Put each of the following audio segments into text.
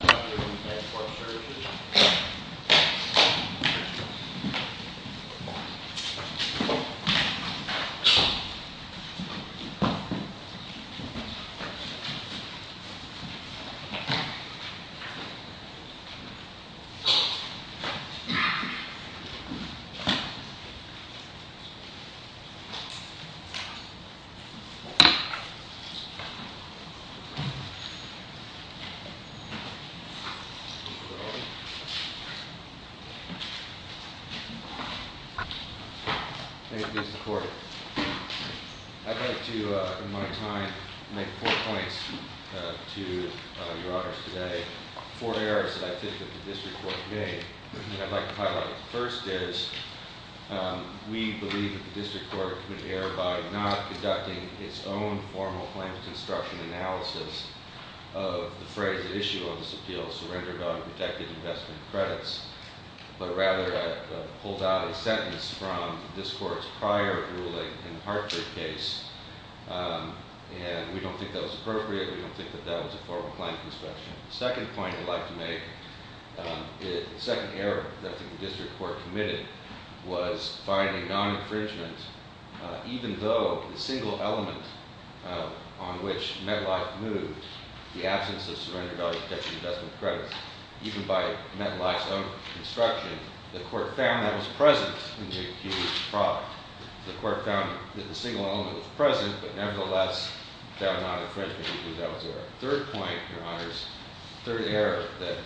Welcome to Bancorp Services I'd like to, in my time, make four points to your honors today. Four errors that I think that the District Court made, and I'd like to highlight. First is, we believe that the District Court could err by not conducting its own formal claims construction analysis of the phrase issued on this appeal, surrender bond protected investment credits. But rather, it pulled out a sentence from this court's prior ruling in the Hartford case, and we don't think that was appropriate, we don't think that that was a formal claim construction. The second point I'd like to make, the second error that the District Court committed, was finding non-infringement, even though the single element on which MetLife moved, the absence of surrender value protected investment credits, even by MetLife's own construction, the court found that was present in the accused's product. The court found that the single element was present, but nevertheless, found non-infringement, even though it was there. Third point, your honors, third error that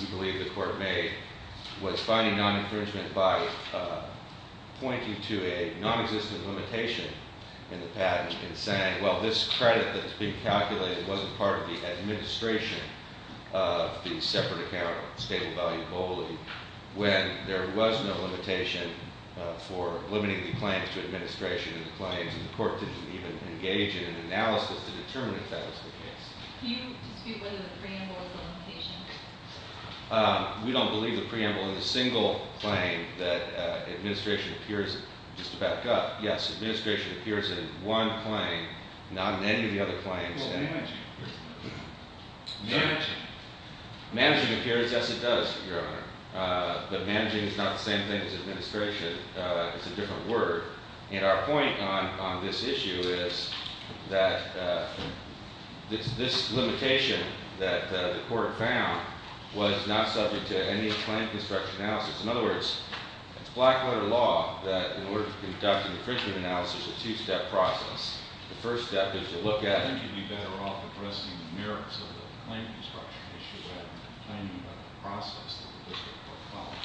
we believe the court made, was finding non-infringement by pointing to a non-existent limitation in the patent, and saying, well, this credit that's being calculated wasn't part of the administration of the separate account of stable value globally, when there was no limitation for limiting the claims to administration claims, and the court didn't even engage in an analysis to determine if that was the case. Can you dispute whether the preamble is a limitation? We don't believe the preamble is a single claim that administration appears in. Just to back up, yes, administration appears in one claim, not in any of the other claims. What about managing? Managing appears, yes it does, your honor, but managing is not the same thing as administration. It's a different word. And our point on this issue is that this limitation that the court found was not subject to any claim construction analysis. In other words, it's black-letter law that in order to conduct an infringement analysis, it's a two-step process. The first step is to look at it. I think you'd be better off addressing the merits of the claim construction issue rather than complaining about the process that the district court followed.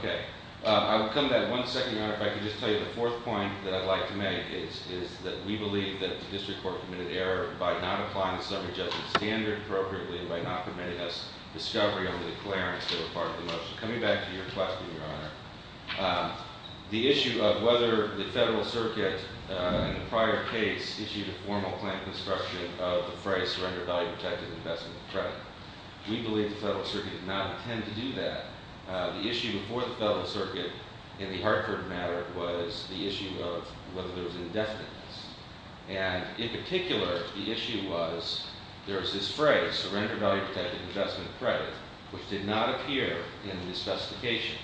Okay. I will come to that in one second, your honor. If I could just tell you the fourth point that I'd like to make is that we believe that the district court committed error by not applying the summary judgment standard appropriately, by not permitting us discovery under the clearance that were part of the motion. Coming back to your question, your honor, the issue of whether the federal circuit in the prior case issued a formal claim construction of the phrase, surrender value-protected investment credit. We believe the federal circuit did not intend to do that. The issue before the federal circuit in the Hartford matter was the issue of whether there was indefiniteness. And in particular, the issue was there was this phrase, surrender value-protected investment credit, which did not appear in the specification.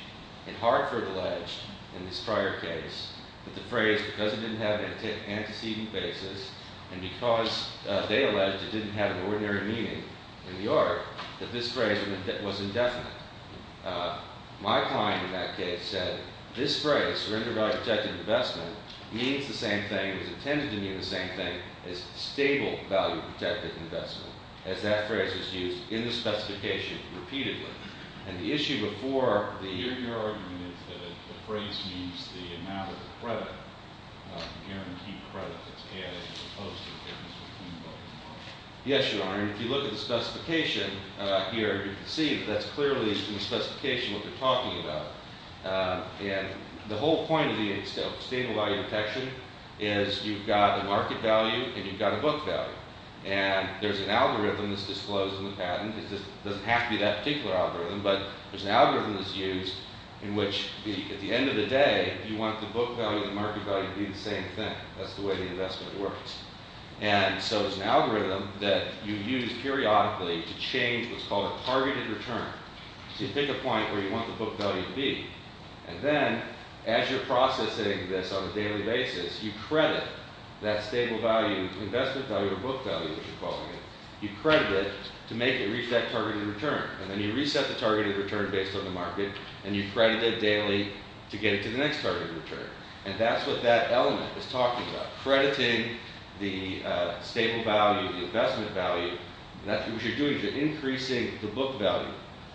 And Hartford alleged in this prior case that the phrase, because it didn't have an antecedent basis, and because they alleged it didn't have an ordinary meaning in the art, that this phrase was indefinite. My client in that case said this phrase, surrender value-protected investment, means the same thing. It was intended to mean the same thing as stable value-protected investment, as that phrase was used in the specification repeatedly. And the issue before the- Your argument is that the phrase means the amount of credit, guaranteed credit, that's added as opposed to the difference between both. Yes, your honor. If you look at the specification here, you can see that that's clearly in the specification what they're talking about. And the whole point of the stable value protection is you've got a market value and you've got a book value. And there's an algorithm that's disclosed in the patent. It doesn't have to be that particular algorithm, but there's an algorithm that's used in which, at the end of the day, you want the book value and the market value to be the same thing. That's the way the investment works. And so there's an algorithm that you use periodically to change what's called a targeted return. So you pick a point where you want the book value to be. And then, as you're processing this on a daily basis, you credit that stable value, investment value or book value, which you're calling it. You credit it to make it reach that targeted return. And then you reset the targeted return based on the market, and you credit it daily to get it to the next targeted return. And that's what that element is talking about, crediting the stable value, the investment value. What you're doing is you're increasing the book value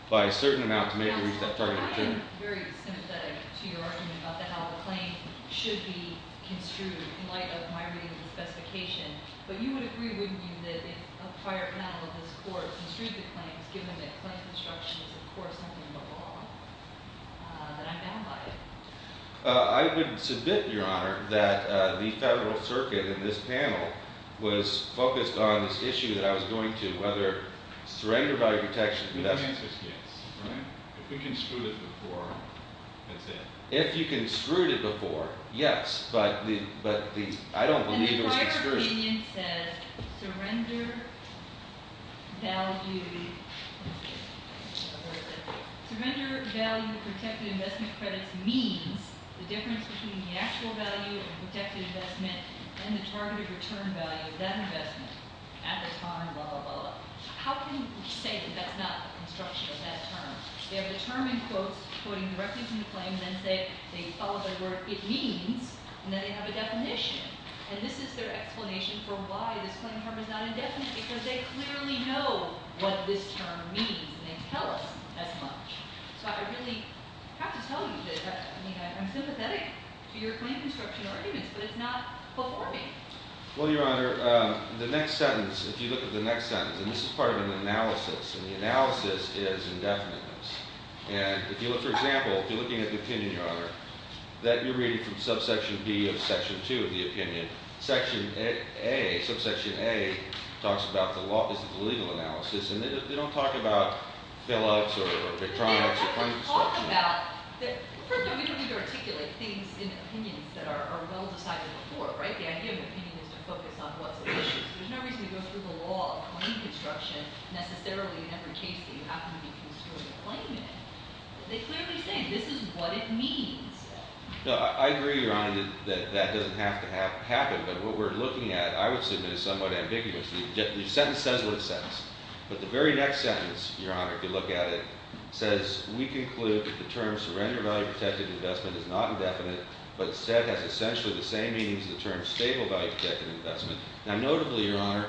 by a certain amount to make it reach that targeted return. I'm very sympathetic to your argument about how the claim should be construed in light of my reading of the specification. But you would agree, wouldn't you, that if a prior panel of this Court construed the claims, given that claim construction is, of course, something above all, that I'm down by it? I would submit, Your Honor, that the Federal Circuit in this panel was focused on this issue that I was going to, whether surrender value protection investment. The answer is yes, right? If we construed it before, that's it. If you construed it before, yes. But I don't believe it was construed. And the prior opinion says surrender value. Surrender value of protected investment credits means the difference between the actual value of a protected investment and the targeted return value of that investment at the time, blah, blah, blah. How can you say that that's not the construction of that term? They have the term in quotes, quoting directly from the claim, and then they follow the word it means, and then they have a definition. And this is their explanation for why this claim is not indefinite, because they clearly know what this term means, and they tell us as much. So I really have to tell you that I'm sympathetic to your claim construction arguments, but it's not before me. Well, Your Honor, the next sentence, if you look at the next sentence, and this is part of an analysis, and the analysis is indefinite. And if you look, for example, if you're looking at the opinion, Your Honor, that you're reading from subsection B of section 2 of the opinion, section A, subsection A, talks about the law is the legal analysis, and they don't talk about fill-ups or electronics or claim construction. They talk about that, first of all, we don't need to articulate things in opinions that are well decided before, right? The idea of opinion is to focus on what's the issue. There's no reason to go through the law of claim construction necessarily in every case that you happen to be construing a claim in. They clearly say this is what it means. No, I agree, Your Honor, that that doesn't have to happen. But what we're looking at, I would submit, is somewhat ambiguous. The sentence says what it says. But the very next sentence, Your Honor, if you look at it, says, we conclude that the term surrender-value-protected investment is not indefinite, but instead has essentially the same meaning as the term stable-value-protected investment. Now, notably, Your Honor,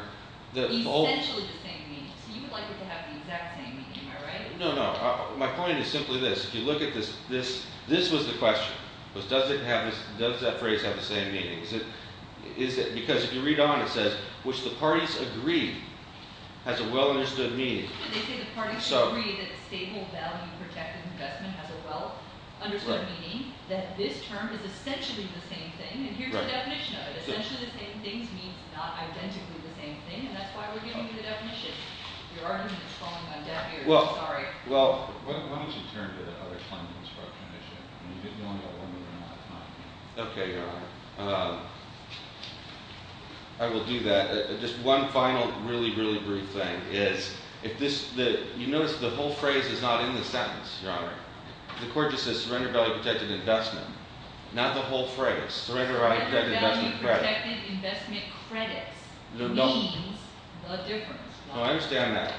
the whole- Essentially the same meaning. So you would like it to have the exact same meaning, am I right? No, no. My point is simply this. If you look at this, this was the question. Does that phrase have the same meaning? Because if you read on, it says, which the parties agree has a well-understood meaning. They say the parties agree that stable-value-protected investment has a well-understood meaning, that this term is essentially the same thing. And here's the definition of it. Essentially the same things means not identically the same thing. And that's why we're giving you the definition. Your argument is falling on deaf ears. I'm sorry. Why don't you turn to the other claim construction issue? Okay, Your Honor. I will do that. Just one final really, really brief thing is if this- You notice the whole phrase is not in the sentence, Your Honor. The court just says surrender-value-protected investment. Not the whole phrase. Surrender-value-protected investment credits. Surrender-value-protected investment credits means the difference. No, I understand that.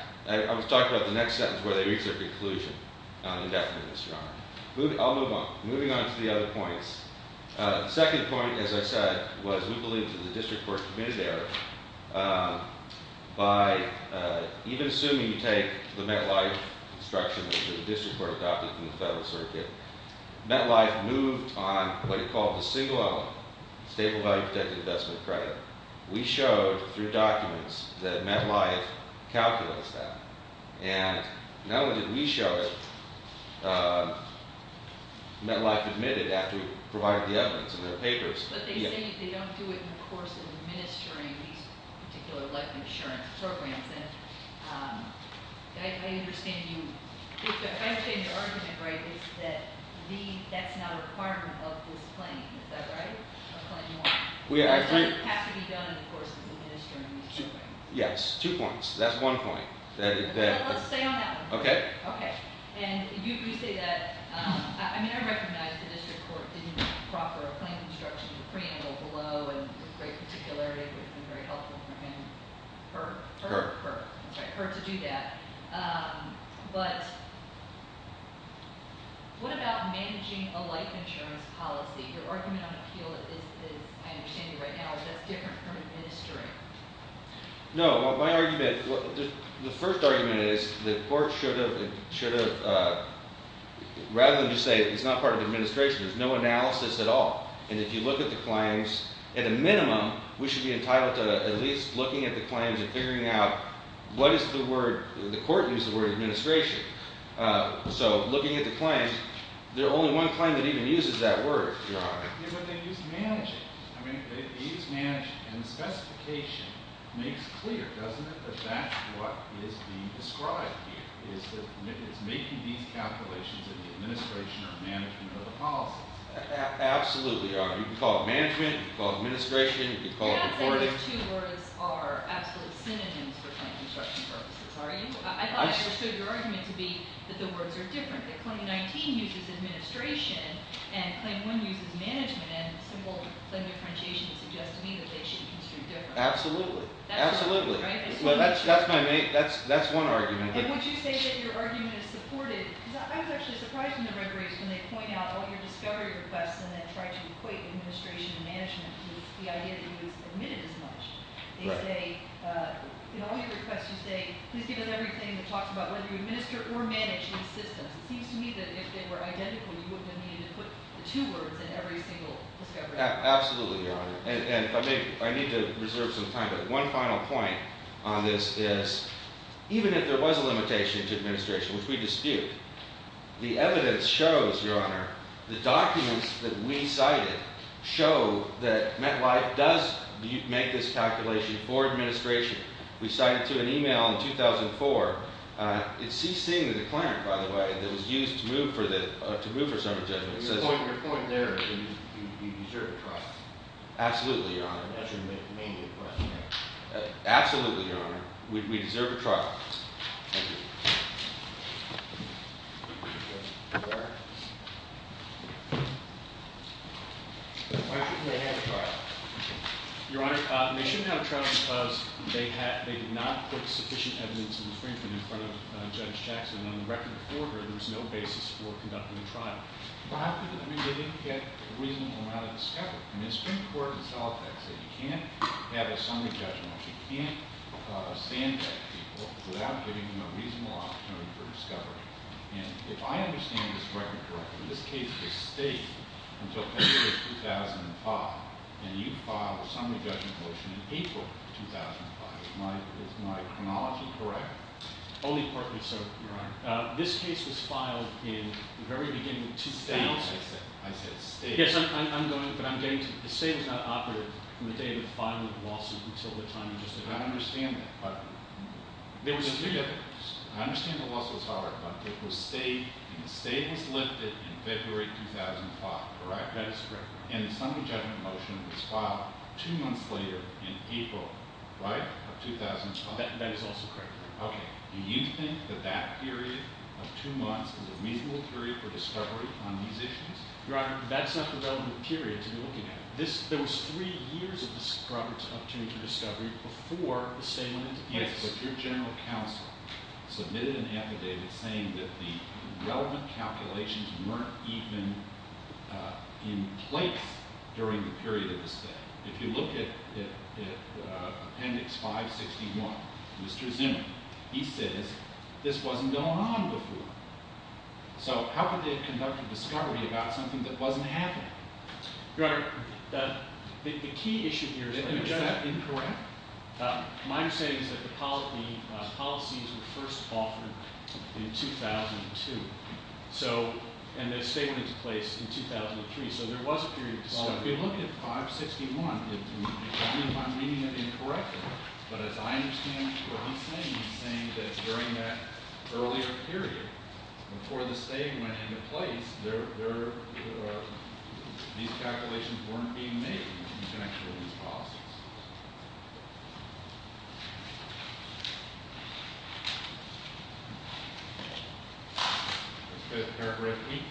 I was talking about the next sentence where they reach their conclusion on indefiniteness, Your Honor. I'll move on. Moving on to the other points. The second point, as I said, was we believe that the district court committed the error. By even assuming you take the MetLife construction that the district court adopted in the Federal Circuit, MetLife moved on what it called the single element, stable-value-protected investment credit. We showed through documents that MetLife calculates that. Not only did we show it, MetLife admitted after we provided the evidence in their papers. But they say they don't do it in the course of administering these particular life insurance programs. I understand your argument, right, is that that's not a requirement of this claim. Is that right? A claim you want. It doesn't have to be done in the course of administering these programs. Yes. Two points. That's one point. Let's stay on that one. Okay. Okay. And you say that. I mean, I recognize the district court didn't proffer a claim construction preamble below, and the great particularity would have been very helpful for her to do that. But what about managing a life insurance policy? Your argument on appeal is, I understand you right now, that's different from administering. No. My argument, the first argument is the court should have, rather than just say it's not part of administration, there's no analysis at all. And if you look at the claims, at a minimum, we should be entitled to at least looking at the claims and figuring out what is the word, the court used the word administration. So looking at the claims, there's only one claim that even uses that word, Your Honor. But they use managing. I mean, they use managing. And the specification makes clear, doesn't it, that that's what is being described here, is that it's making these calculations in the administration or management of the policy. Absolutely, Your Honor. You can call it management. You can call it administration. You can call it reporting. You can't say those two words are absolute synonyms for claim construction purposes, are you? I thought I understood your argument to be that the words are different, that claim 19 uses administration and claim 1 uses management. And simple claim differentiation suggests to me that they should be construed differently. Absolutely. Absolutely. That's one argument. And would you say that your argument is supported? Because I was actually surprised from the referees when they point out all your discovery requests and then try to equate administration and management to the idea that you admitted as much. They say, in all your requests you say, please give us everything that talks about whether you administer or manage these systems. It seems to me that if they were identical, you would need to put the two words in every single discovery. Absolutely, Your Honor. And I need to reserve some time, but one final point on this is, even if there was a limitation to administration, which we dispute, the evidence shows, Your Honor, the documents that we cited show that MetLife does make this calculation for administration. We cited to an email in 2004. It ceased seeing the declarant, by the way, that was used to move for summary judgment. Your point there is you deserve a trial. Absolutely, Your Honor. That's your main request. Absolutely, Your Honor. We deserve a trial. Thank you. Why shouldn't they have a trial? Your Honor, they shouldn't have a trial because they did not put sufficient evidence in the Supreme Court in front of Judge Jackson. On the record before her, there was no basis for conducting a trial. But how could they? I mean, they didn't get a reasonable amount of discovery. And the Supreme Court itself has said you can't have a summary judgment motion. You can't stand that people without giving them a reasonable opportunity for discovery. And if I understand this record correctly, this case was staged until February of 2005, and you filed a summary judgment motion in April of 2005. Is my chronology correct? Only partly so, Your Honor. This case was filed in the very beginning of 2000. I said staged. Yes, I'm going – but I'm getting to – the state was not operative from the day of the filing of the lawsuit until the time you just announced it. I understand that, but I understand the lawsuit's hard, but it was staged. The stage was lifted in February 2005, correct? That is correct. And the summary judgment motion was filed two months later in April, right? Of 2005. That is also correct. Okay. Do you think that that period of two months is a reasonable period for discovery on these issues? Your Honor, that's not the relevant period to be looking at. There was three years of opportunity for discovery before the state went into place. Yes, but your general counsel submitted an affidavit saying that the relevant calculations weren't even in place during the period of the state. If you look at Appendix 561, Mr. Zimmer, he says this wasn't going on before. So how could they have conducted discovery about something that wasn't happening? Your Honor, the key issue here is that – Is that incorrect? My understanding is that the policies were first offered in 2002. So – and the state went into place in 2003. So there was a period of discovery. Well, if you look at 561, if I'm reading it incorrectly, but as I understand what he's saying, he's saying that during that earlier period, before the state went into place, these calculations weren't being made in connection with these policies. Let's go to paragraph 8.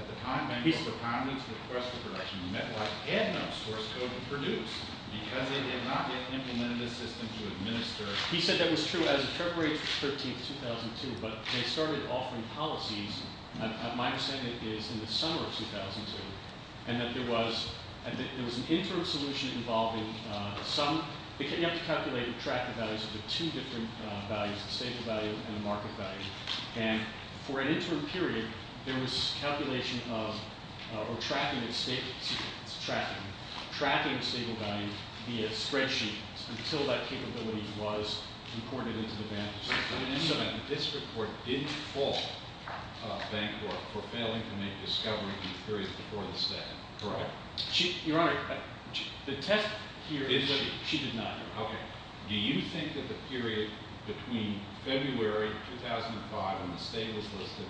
At the time, at least the prominence of the request for correction, the Metwide had no source code to produce because they had not yet implemented a system to administer. He said that was true as of February 13, 2002, but they started offering policies. My understanding is in the summer of 2002 and that there was an interim solution involving some – you have to calculate and track the values of the two different values, the stable value and the market value. And for an interim period, there was calculation of – or tracking the stable value via spreadsheets until that capability was imported into the bank. So this report didn't fault the bank for failing to make discovery in the period before the state, correct? Your Honor, the test here is – She did not. Okay. Do you think that the period between February 2005 when the state was listed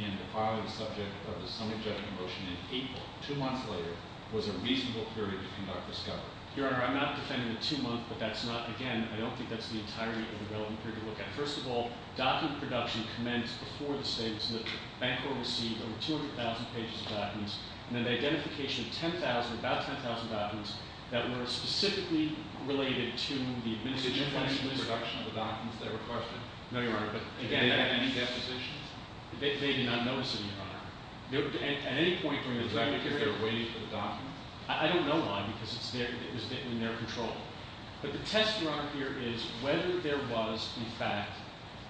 and the filing subject of the summary judgment motion in April, two months later, was a reasonable period to conduct discovery? Your Honor, I'm not defending the two months, but that's not – again, I don't think that's the entirety of the relevant period to look at. First of all, document production commenced before the state was listed. The bank will receive over 200,000 pages of documents. And then the identification of 10,000 – about 10,000 documents that were specifically related to the administration of financial – Was there any reduction of the documents that were requested? No, Your Honor, but again – Did they make any depositions? They did not notice it, Your Honor. At any point during the period – Was that because they were waiting for the documents? I don't know why because it was in their control. But the test, Your Honor, here is whether there was, in fact,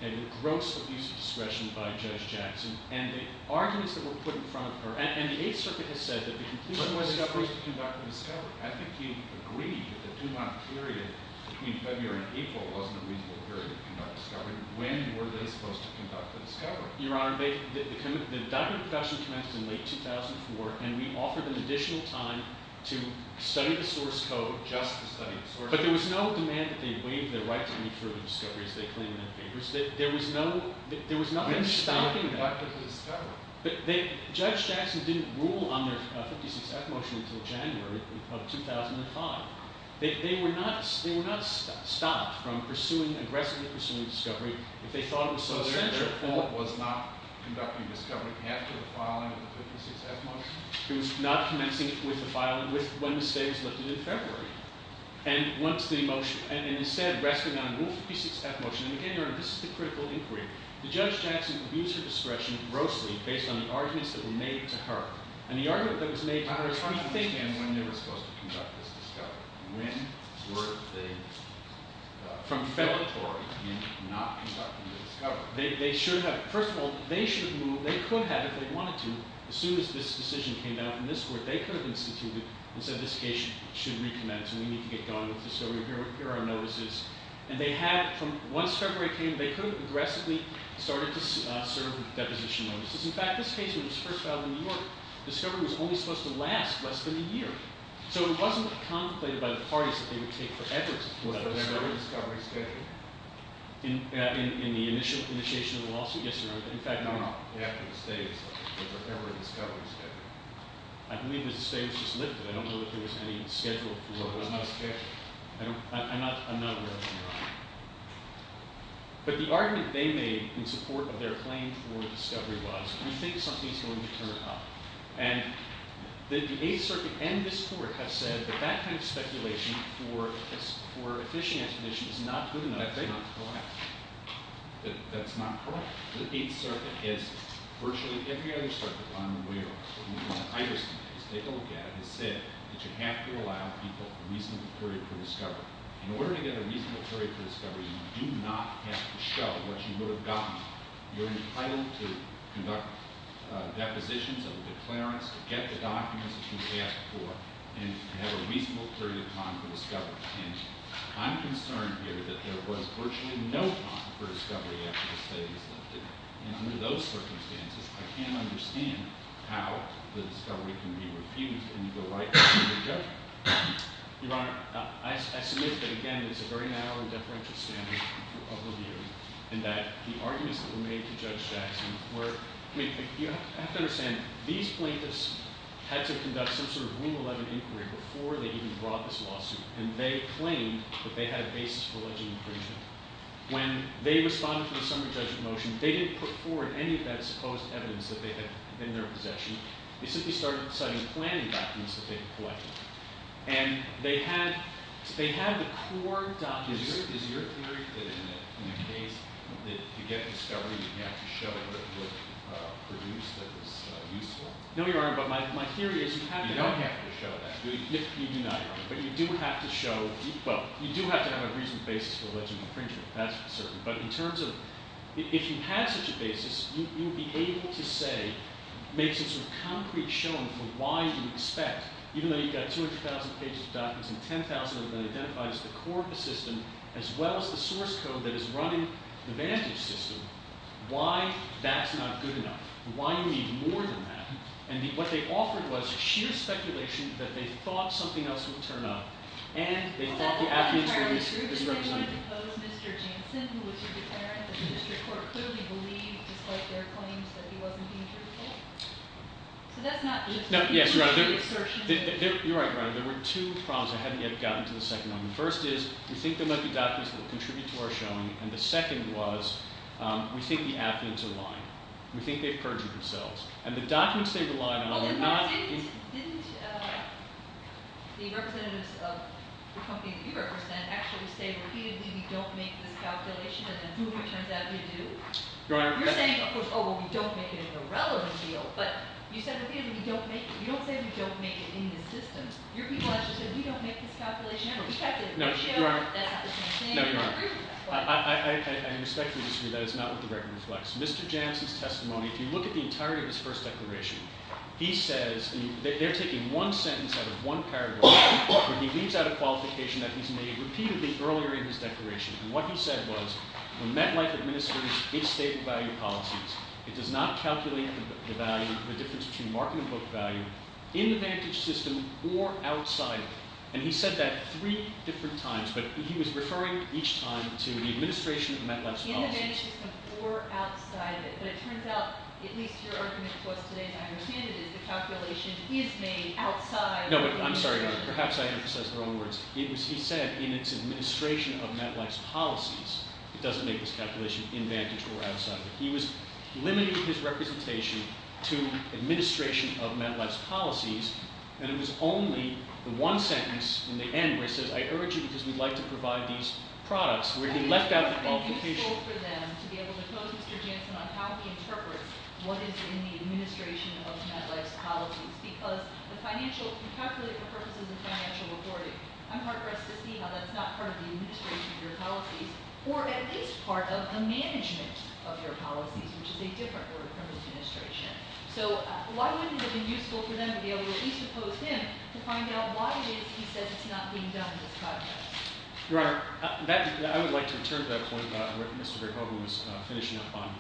a gross abuse of discretion by Judge Jackson. And the arguments that were put in front – and the Eighth Circuit has said that the conclusion was – When was it supposed to conduct the discovery? I think you agreed that the two-month period between February and April wasn't a reasonable period to conduct discovery. When were they supposed to conduct the discovery? Your Honor, the document production commenced in late 2004, and we offered them additional time to study the source code – Just to study the source code. But there was no demand that they waive their right to any further discovery as they claimed in their papers. There was no – But Judge Jackson didn't rule on their 56-F motion until January of 2005. They were not stopped from aggressively pursuing discovery if they thought it was so essential. So their report was not conducting discovery after the filing of the 56-F motion? It was not commencing with the filing when the state was lifted in February. And once the motion – And instead, resting on a rule 56-F motion – And again, Your Honor, this is the critical inquiry. The Judge Jackson would use her discretion grossly based on the arguments that were made to her. And the argument that was made to her is hard to think in when they were supposed to conduct this discovery. When were they – From February. Not conducting the discovery. They should have – First of all, they should have moved – They could have, if they wanted to, as soon as this decision came down from this Court. They could have instituted and said this case should recommence and we need to get going with discovery. Here are our notices. And they had – Once February came, they could have aggressively started to serve with deposition notices. In fact, this case, when it was first filed in New York, discovery was only supposed to last less than a year. So it wasn't contemplated by the parties that they would take forever to pull out of discovery. Was there a discovery schedule? In the initial initiation of the lawsuit? Yes, Your Honor. In fact – No, no. After the state was lifted. Was there ever a discovery schedule? I believe the state was just lifted. I don't know if there was any schedule for – There was no schedule. I'm not aware of it, Your Honor. But the argument they made in support of their claim for discovery was, we think something's going to turn up. And the Eighth Circuit and this Court have said that that kind of speculation for a fishing expedition is not good enough. That's not correct. That's not correct. The Eighth Circuit is virtually every other circuit on the way around. What I understand is they don't get it. The Eighth Circuit has said that you have to allow people a reasonable period for discovery. In order to get a reasonable period for discovery, you do not have to show what you would have gotten. You're entitled to conduct depositions and declarants, get the documents that you've asked for, and have a reasonable period of time for discovery. And I'm concerned here that there was virtually no time for discovery after the state was lifted. And under those circumstances, I can't understand how the discovery can be refused, and you go right back to the judge. Your Honor, I submit that, again, there's a very narrow and deferential standard of review, and that the arguments that were made to Judge Jackson were – I mean, you have to understand, these plaintiffs had to conduct some sort of Rule 11 inquiry before they even brought this lawsuit. And they claimed that they had a basis for alleging infringement. When they responded to the summary judgment motion, they didn't put forward any of that supposed evidence that they had in their possession. They simply started citing planning documents that they had collected. And they had the core documents – Is your theory that in the case that you get discovery, you have to show that it was produced, that it was useful? No, Your Honor, but my theory is you have to – You don't have to show that. You do not, Your Honor. But you do have to show – Well, you do have to have a reasonable basis for alleging infringement. That's certain. But in terms of – If you had such a basis, you would be able to say – make some sort of concrete showing for why you expect, even though you've got 200,000 pages of documents and 10,000 have been identified as the core of the system, as well as the source code that is running the vantage system, why that's not good enough, why you need more than that. And what they offered was sheer speculation that they thought something else would turn up. Is that not entirely true? Did they want to depose Mr. Jansen, who was the defendant that the district court clearly believed, despite their claims that he wasn't being truthful? So that's not just – No, yes, Your Honor. You're right, Your Honor. There were two problems I haven't yet gotten to the second one. The first is we think there might be documents that contribute to our showing, and the second was we think the applicants are lying. We think they've perjured themselves. And the documents they relied on were not – Didn't the representatives of the company that you represent actually say repeatedly, we don't make this calculation, and then, boom, it turns out we do? You're saying, of course, oh, well, we don't make it in the relevant field, but you said repeatedly, we don't make it – you don't say we don't make it in the system. Your people actually said, we don't make this calculation, and we've got the ratio that's the same. No, Your Honor. No, Your Honor. I respectfully disagree. That is not what the record reflects. Mr. Jansen's testimony, if you look at the entirety of his first declaration, he says – they're taking one sentence out of one paragraph, but he leaves out a qualification that he's made repeatedly earlier in his declaration. And what he said was, when MetLife administers its state of value policies, it does not calculate the value – the difference between market and book value in the vantage system or outside of it. And he said that three different times, but he was referring each time to the administration of MetLife's policies. In the vantage system or outside of it. But it turns out, at least your argument to us today, and I understand it, is the calculation is made outside – No, but I'm sorry, Your Honor. Perhaps I emphasized the wrong words. He said, in its administration of MetLife's policies, it doesn't make this calculation in vantage or outside of it. He was limiting his representation to administration of MetLife's policies, and it was only the one sentence in the end where he says, I urge you because we'd like to provide these products, where he left out the qualification. I think it's useful for them to be able to pose Mr. Jansen on how he interprets what is in the administration of MetLife's policies. Because the financial, if you calculate the purposes of financial authority, I'm heart-wrested to see how that's not part of the administration of your policies, or at least part of the management of your policies, which is a different word from administration. So why wouldn't it have been useful for them to be able to at least oppose him to find out why it is he says it's not being done in this context? Your Honor, I would like to return to that point about what Mr. Verhoeven was finishing up on.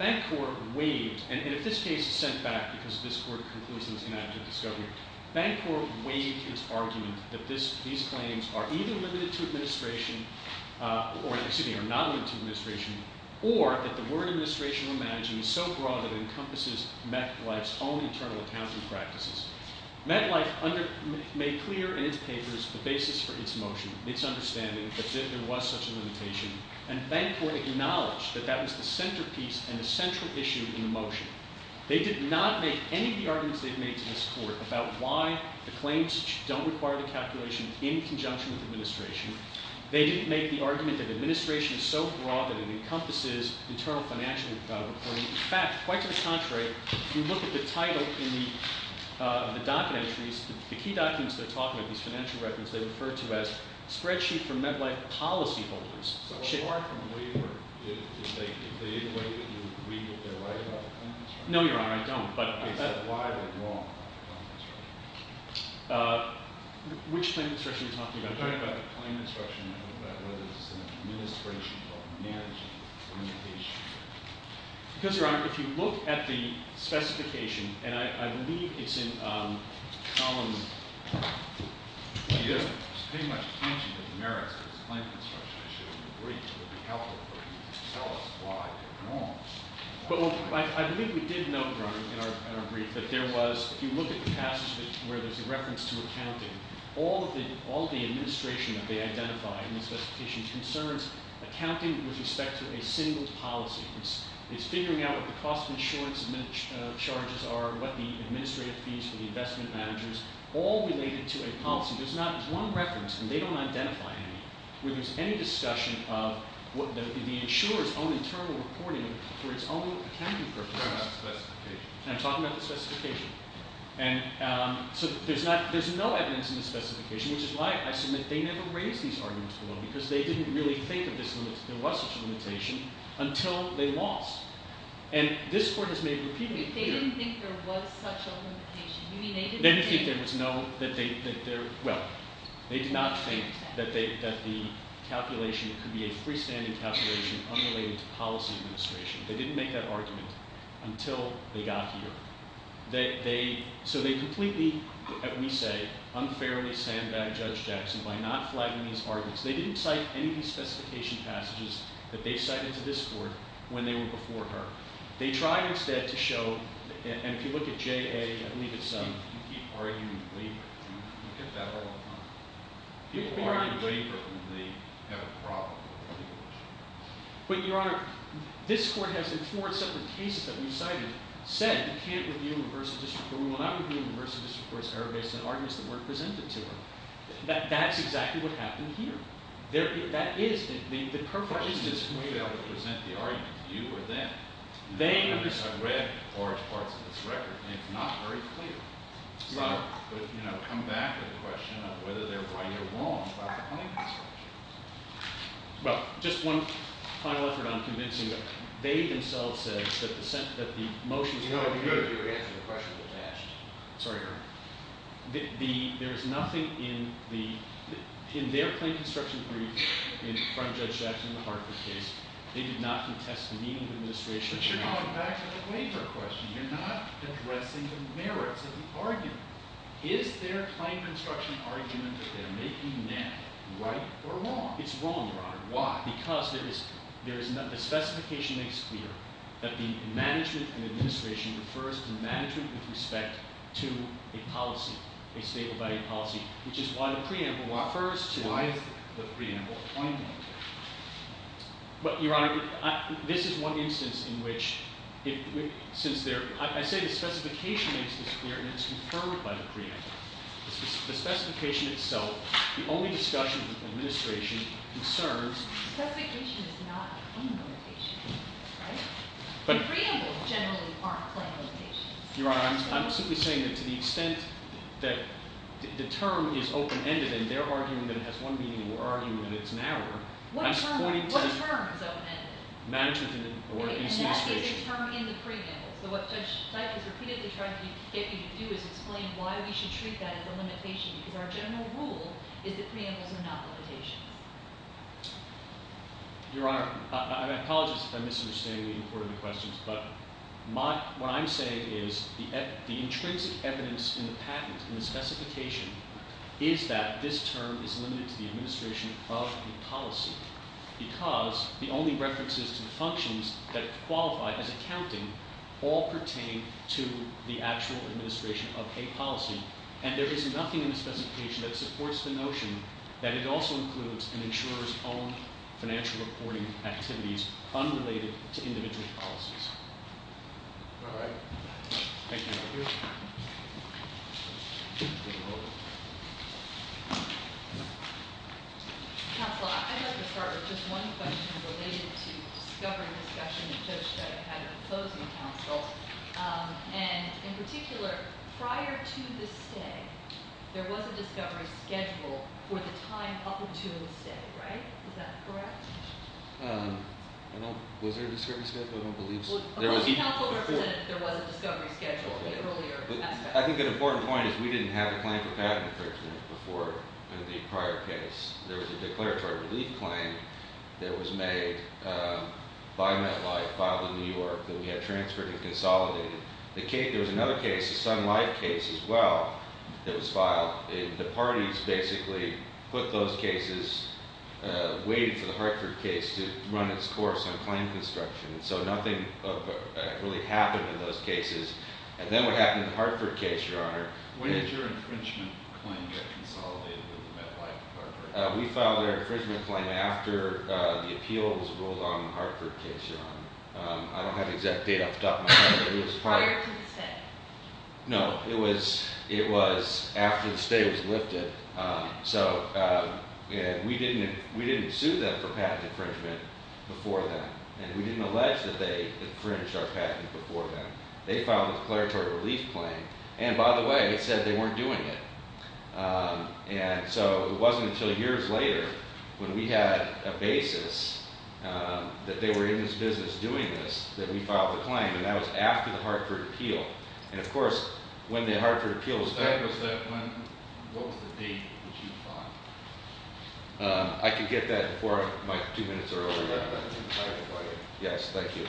Bancorp waived, and in this case it's sent back because this court concludes in its inactive discovery, Bancorp waived its argument that these claims are either limited to administration, or, excuse me, are not limited to administration, or that the word administration, imagine, is so broad that it encompasses MetLife's own internal accounting practices. MetLife made clear in its papers the basis for its motion, its understanding that there was such a limitation, and Bancorp acknowledged that that was the centerpiece and the central issue in the motion. They did not make any of the arguments they've made to this court about why the claims don't require the calculation in conjunction with administration. They didn't make the argument that administration is so broad that it encompasses internal financial reporting. In fact, quite to the contrary, if you look at the title in the docket entries, the key documents they're talking about, these financial records, they refer to as Spreadsheet for MetLife Policy Holders. So apart from the waiver, if they waive it, do you agree that they're right about the claim instruction? No, Your Honor, I don't. Is that why they're wrong about the claim instruction? Which claim instruction are you talking about? I'm talking about the claim instruction about whether it's an administration or management limitation. Because, Your Honor, if you look at the specification, and I believe it's in column... You pay much attention to the merits of the claim instruction issue in the brief. It would be helpful for you to tell us why they're wrong. But I believe we did note, Your Honor, in our brief, that there was, if you look at the passage where there's a reference to accounting, all of the administration that they identify in the specification concerns accounting with respect to a single policy. It's figuring out what the cost of insurance charges are, what the administrative fees for the investment managers, all related to a policy. There's one reference, and they don't identify any, where there's any discussion of the insurer's own internal reporting for its own accounting purpose. I'm talking about the specification. And so there's no evidence in the specification, which is why I submit they never raised these arguments below, because they didn't really think that there was such a limitation until they lost. And this Court has made repeatedly clear... They didn't think there was such a limitation. You mean they didn't think... They didn't think there was no... Well, they did not think that the calculation could be a freestanding calculation unrelated to policy administration. They didn't make that argument until they got here. So they completely, we say, unfairly sandbagged Judge Jackson by not flagging these arguments. They didn't cite any of these specification passages that they cited to this Court when they were before her. They tried instead to show... And if you look at JA, I believe it's... We get that all the time. People argue waiver when they have a problem. But, Your Honor, this Court has, in four separate cases that we've cited, said you can't review universal district court. We will not review universal district court's error-based and arguments that weren't presented to her. That's exactly what happened here. That is... For instance, maybe I would present the argument to you or them. They... Because I've read large parts of this record and it's not very clear. So, you know, come back to the question of whether they're right or wrong about the claim construction. Well, just one final effort on convincing them. They themselves said that the motions... You know, you answered the question that was asked. Sorry, Your Honor. There was nothing in their claim construction brief from Judge Jackson in the Hartford case. They did not contest the meaning of administration... But you're going back to the waiver question. You're not addressing the merits of the argument. Is their claim construction argument that they're making now right or wrong? It's wrong, Your Honor. Why? Because there is... The specification makes clear that the management and administration refers to management with respect to a policy, a stable value policy, which is why the preamble refers to... Why is the preamble pointing to? But, Your Honor, this is one instance in which, since they're... I say the specification makes this clear, and it's confirmed by the preamble. The specification itself, the only discussion with administration, concerns... The specification is not a claim limitation. Right? The preambles generally aren't claim limitations. Your Honor, I'm simply saying that to the extent that the term is open-ended, and their argument has one meaning, their argument is narrower... What term is open-ended? Management or administration. And that is a term in the preamble. So what Judge Teich has repeatedly tried to get you to do is explain why we should treat that as a limitation, because our general rule is that preambles are not limitations. Your Honor, I apologize if I'm misunderstanding the importance of the questions, but what I'm saying is the intrinsic evidence in the patent, in the specification, is that this term is limited to the administration of the policy, because the only references to functions that qualify as accounting all pertain to the actual administration of a policy, and there is nothing in the specification that supports the notion that it also includes an insurer's own financial reporting activities unrelated to individual policies. All right. Thank you, Your Honor. Counsel, I'd like to start with just one question related to discovery discussion that Judge Teich had in the closing counsel, and in particular, prior to the stay, there was a discovery schedule for the time up until the stay, right? Is that correct? Was there a discovery schedule? I don't believe so. The closing counsel said there was a discovery schedule in the earlier aspect. I think an important point is we didn't have a claim for patent infringement before the prior case. There was a declaratory relief claim that was made by MetLife, filed in New York, that we had transferred and consolidated. There was another case, a Sun Life case as well, that was filed. The parties basically put those cases, waited for the Hartford case to run its course on claim construction, so nothing really happened in those cases, and then what happened in the Hartford case, Your Honor... When did your infringement claim get consolidated with the MetLife, Hartford? We filed our infringement claim after the appeals ruled on the Hartford case, Your Honor. I don't have exact data off the top of my head, but it was prior... Prior to the stay. No, it was after the stay was lifted, so we didn't sue them for patent infringement before then, and we didn't allege that they infringed our patent before then. They filed a declaratory relief claim, and by the way, it said they weren't doing it, and so it wasn't until years later when we had a basis that they were in this business doing this that we filed the claim, and that was after the Hartford appeal, and of course, when the Hartford appeal was... That was that one. What was the date that you filed? I can get that before my two minutes are over, Your Honor. I have it right here. Yes, thank you.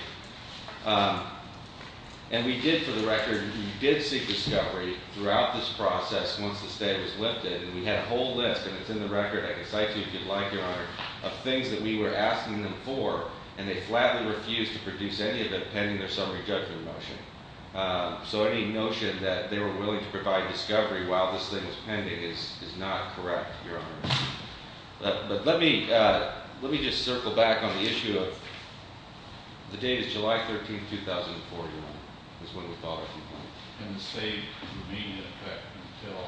And we did, for the record, we did seek discovery throughout this process once the stay was lifted, and we had a whole list, and it's in the record, I can cite to you if you'd like, Your Honor, of things that we were asking them for, and they flatly refused to produce any of it pending their summary judgment motion, so any notion that they were willing to provide discovery while this thing was pending is not correct, Your Honor. But let me just circle back on the issue of... The date is July 13, 2004, Your Honor, is when we filed our complaint. And the stay remained in effect until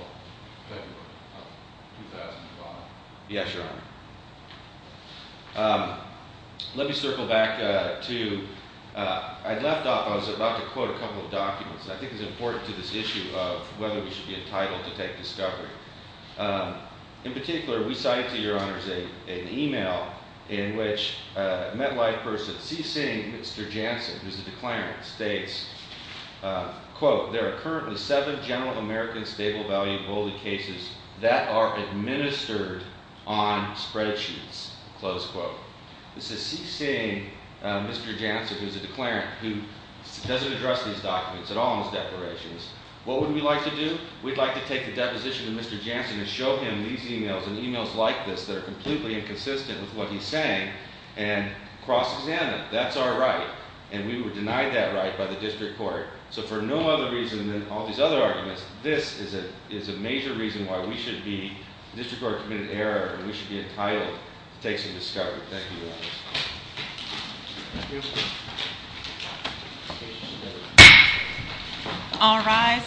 February of 2005. Yes, Your Honor. Let me circle back to... I left off, I was about to quote a couple of documents, I think it's important to this issue of whether we should be entitled to take discovery. In particular, we cited to Your Honors an email in which a MetLife person, C. Singh, Mr. Jansen, who's a declarant, states, quote, there are currently seven general American stable value bully cases that are administered on spreadsheets, close quote. This is C. Singh, Mr. Jansen, who's a declarant, who doesn't address these documents at all in his declarations. What would we like to do? We'd like to take the deposition of Mr. Jansen and show him these emails and emails like this that are completely inconsistent with what he's saying and cross-examine. That's our right. And we were denied that right by the district court. So for no other reason than all these other arguments, this is a major reason why we should be, the district court committed an error, and we should be entitled to take some discovery. Thank you, Your Honor. All rise.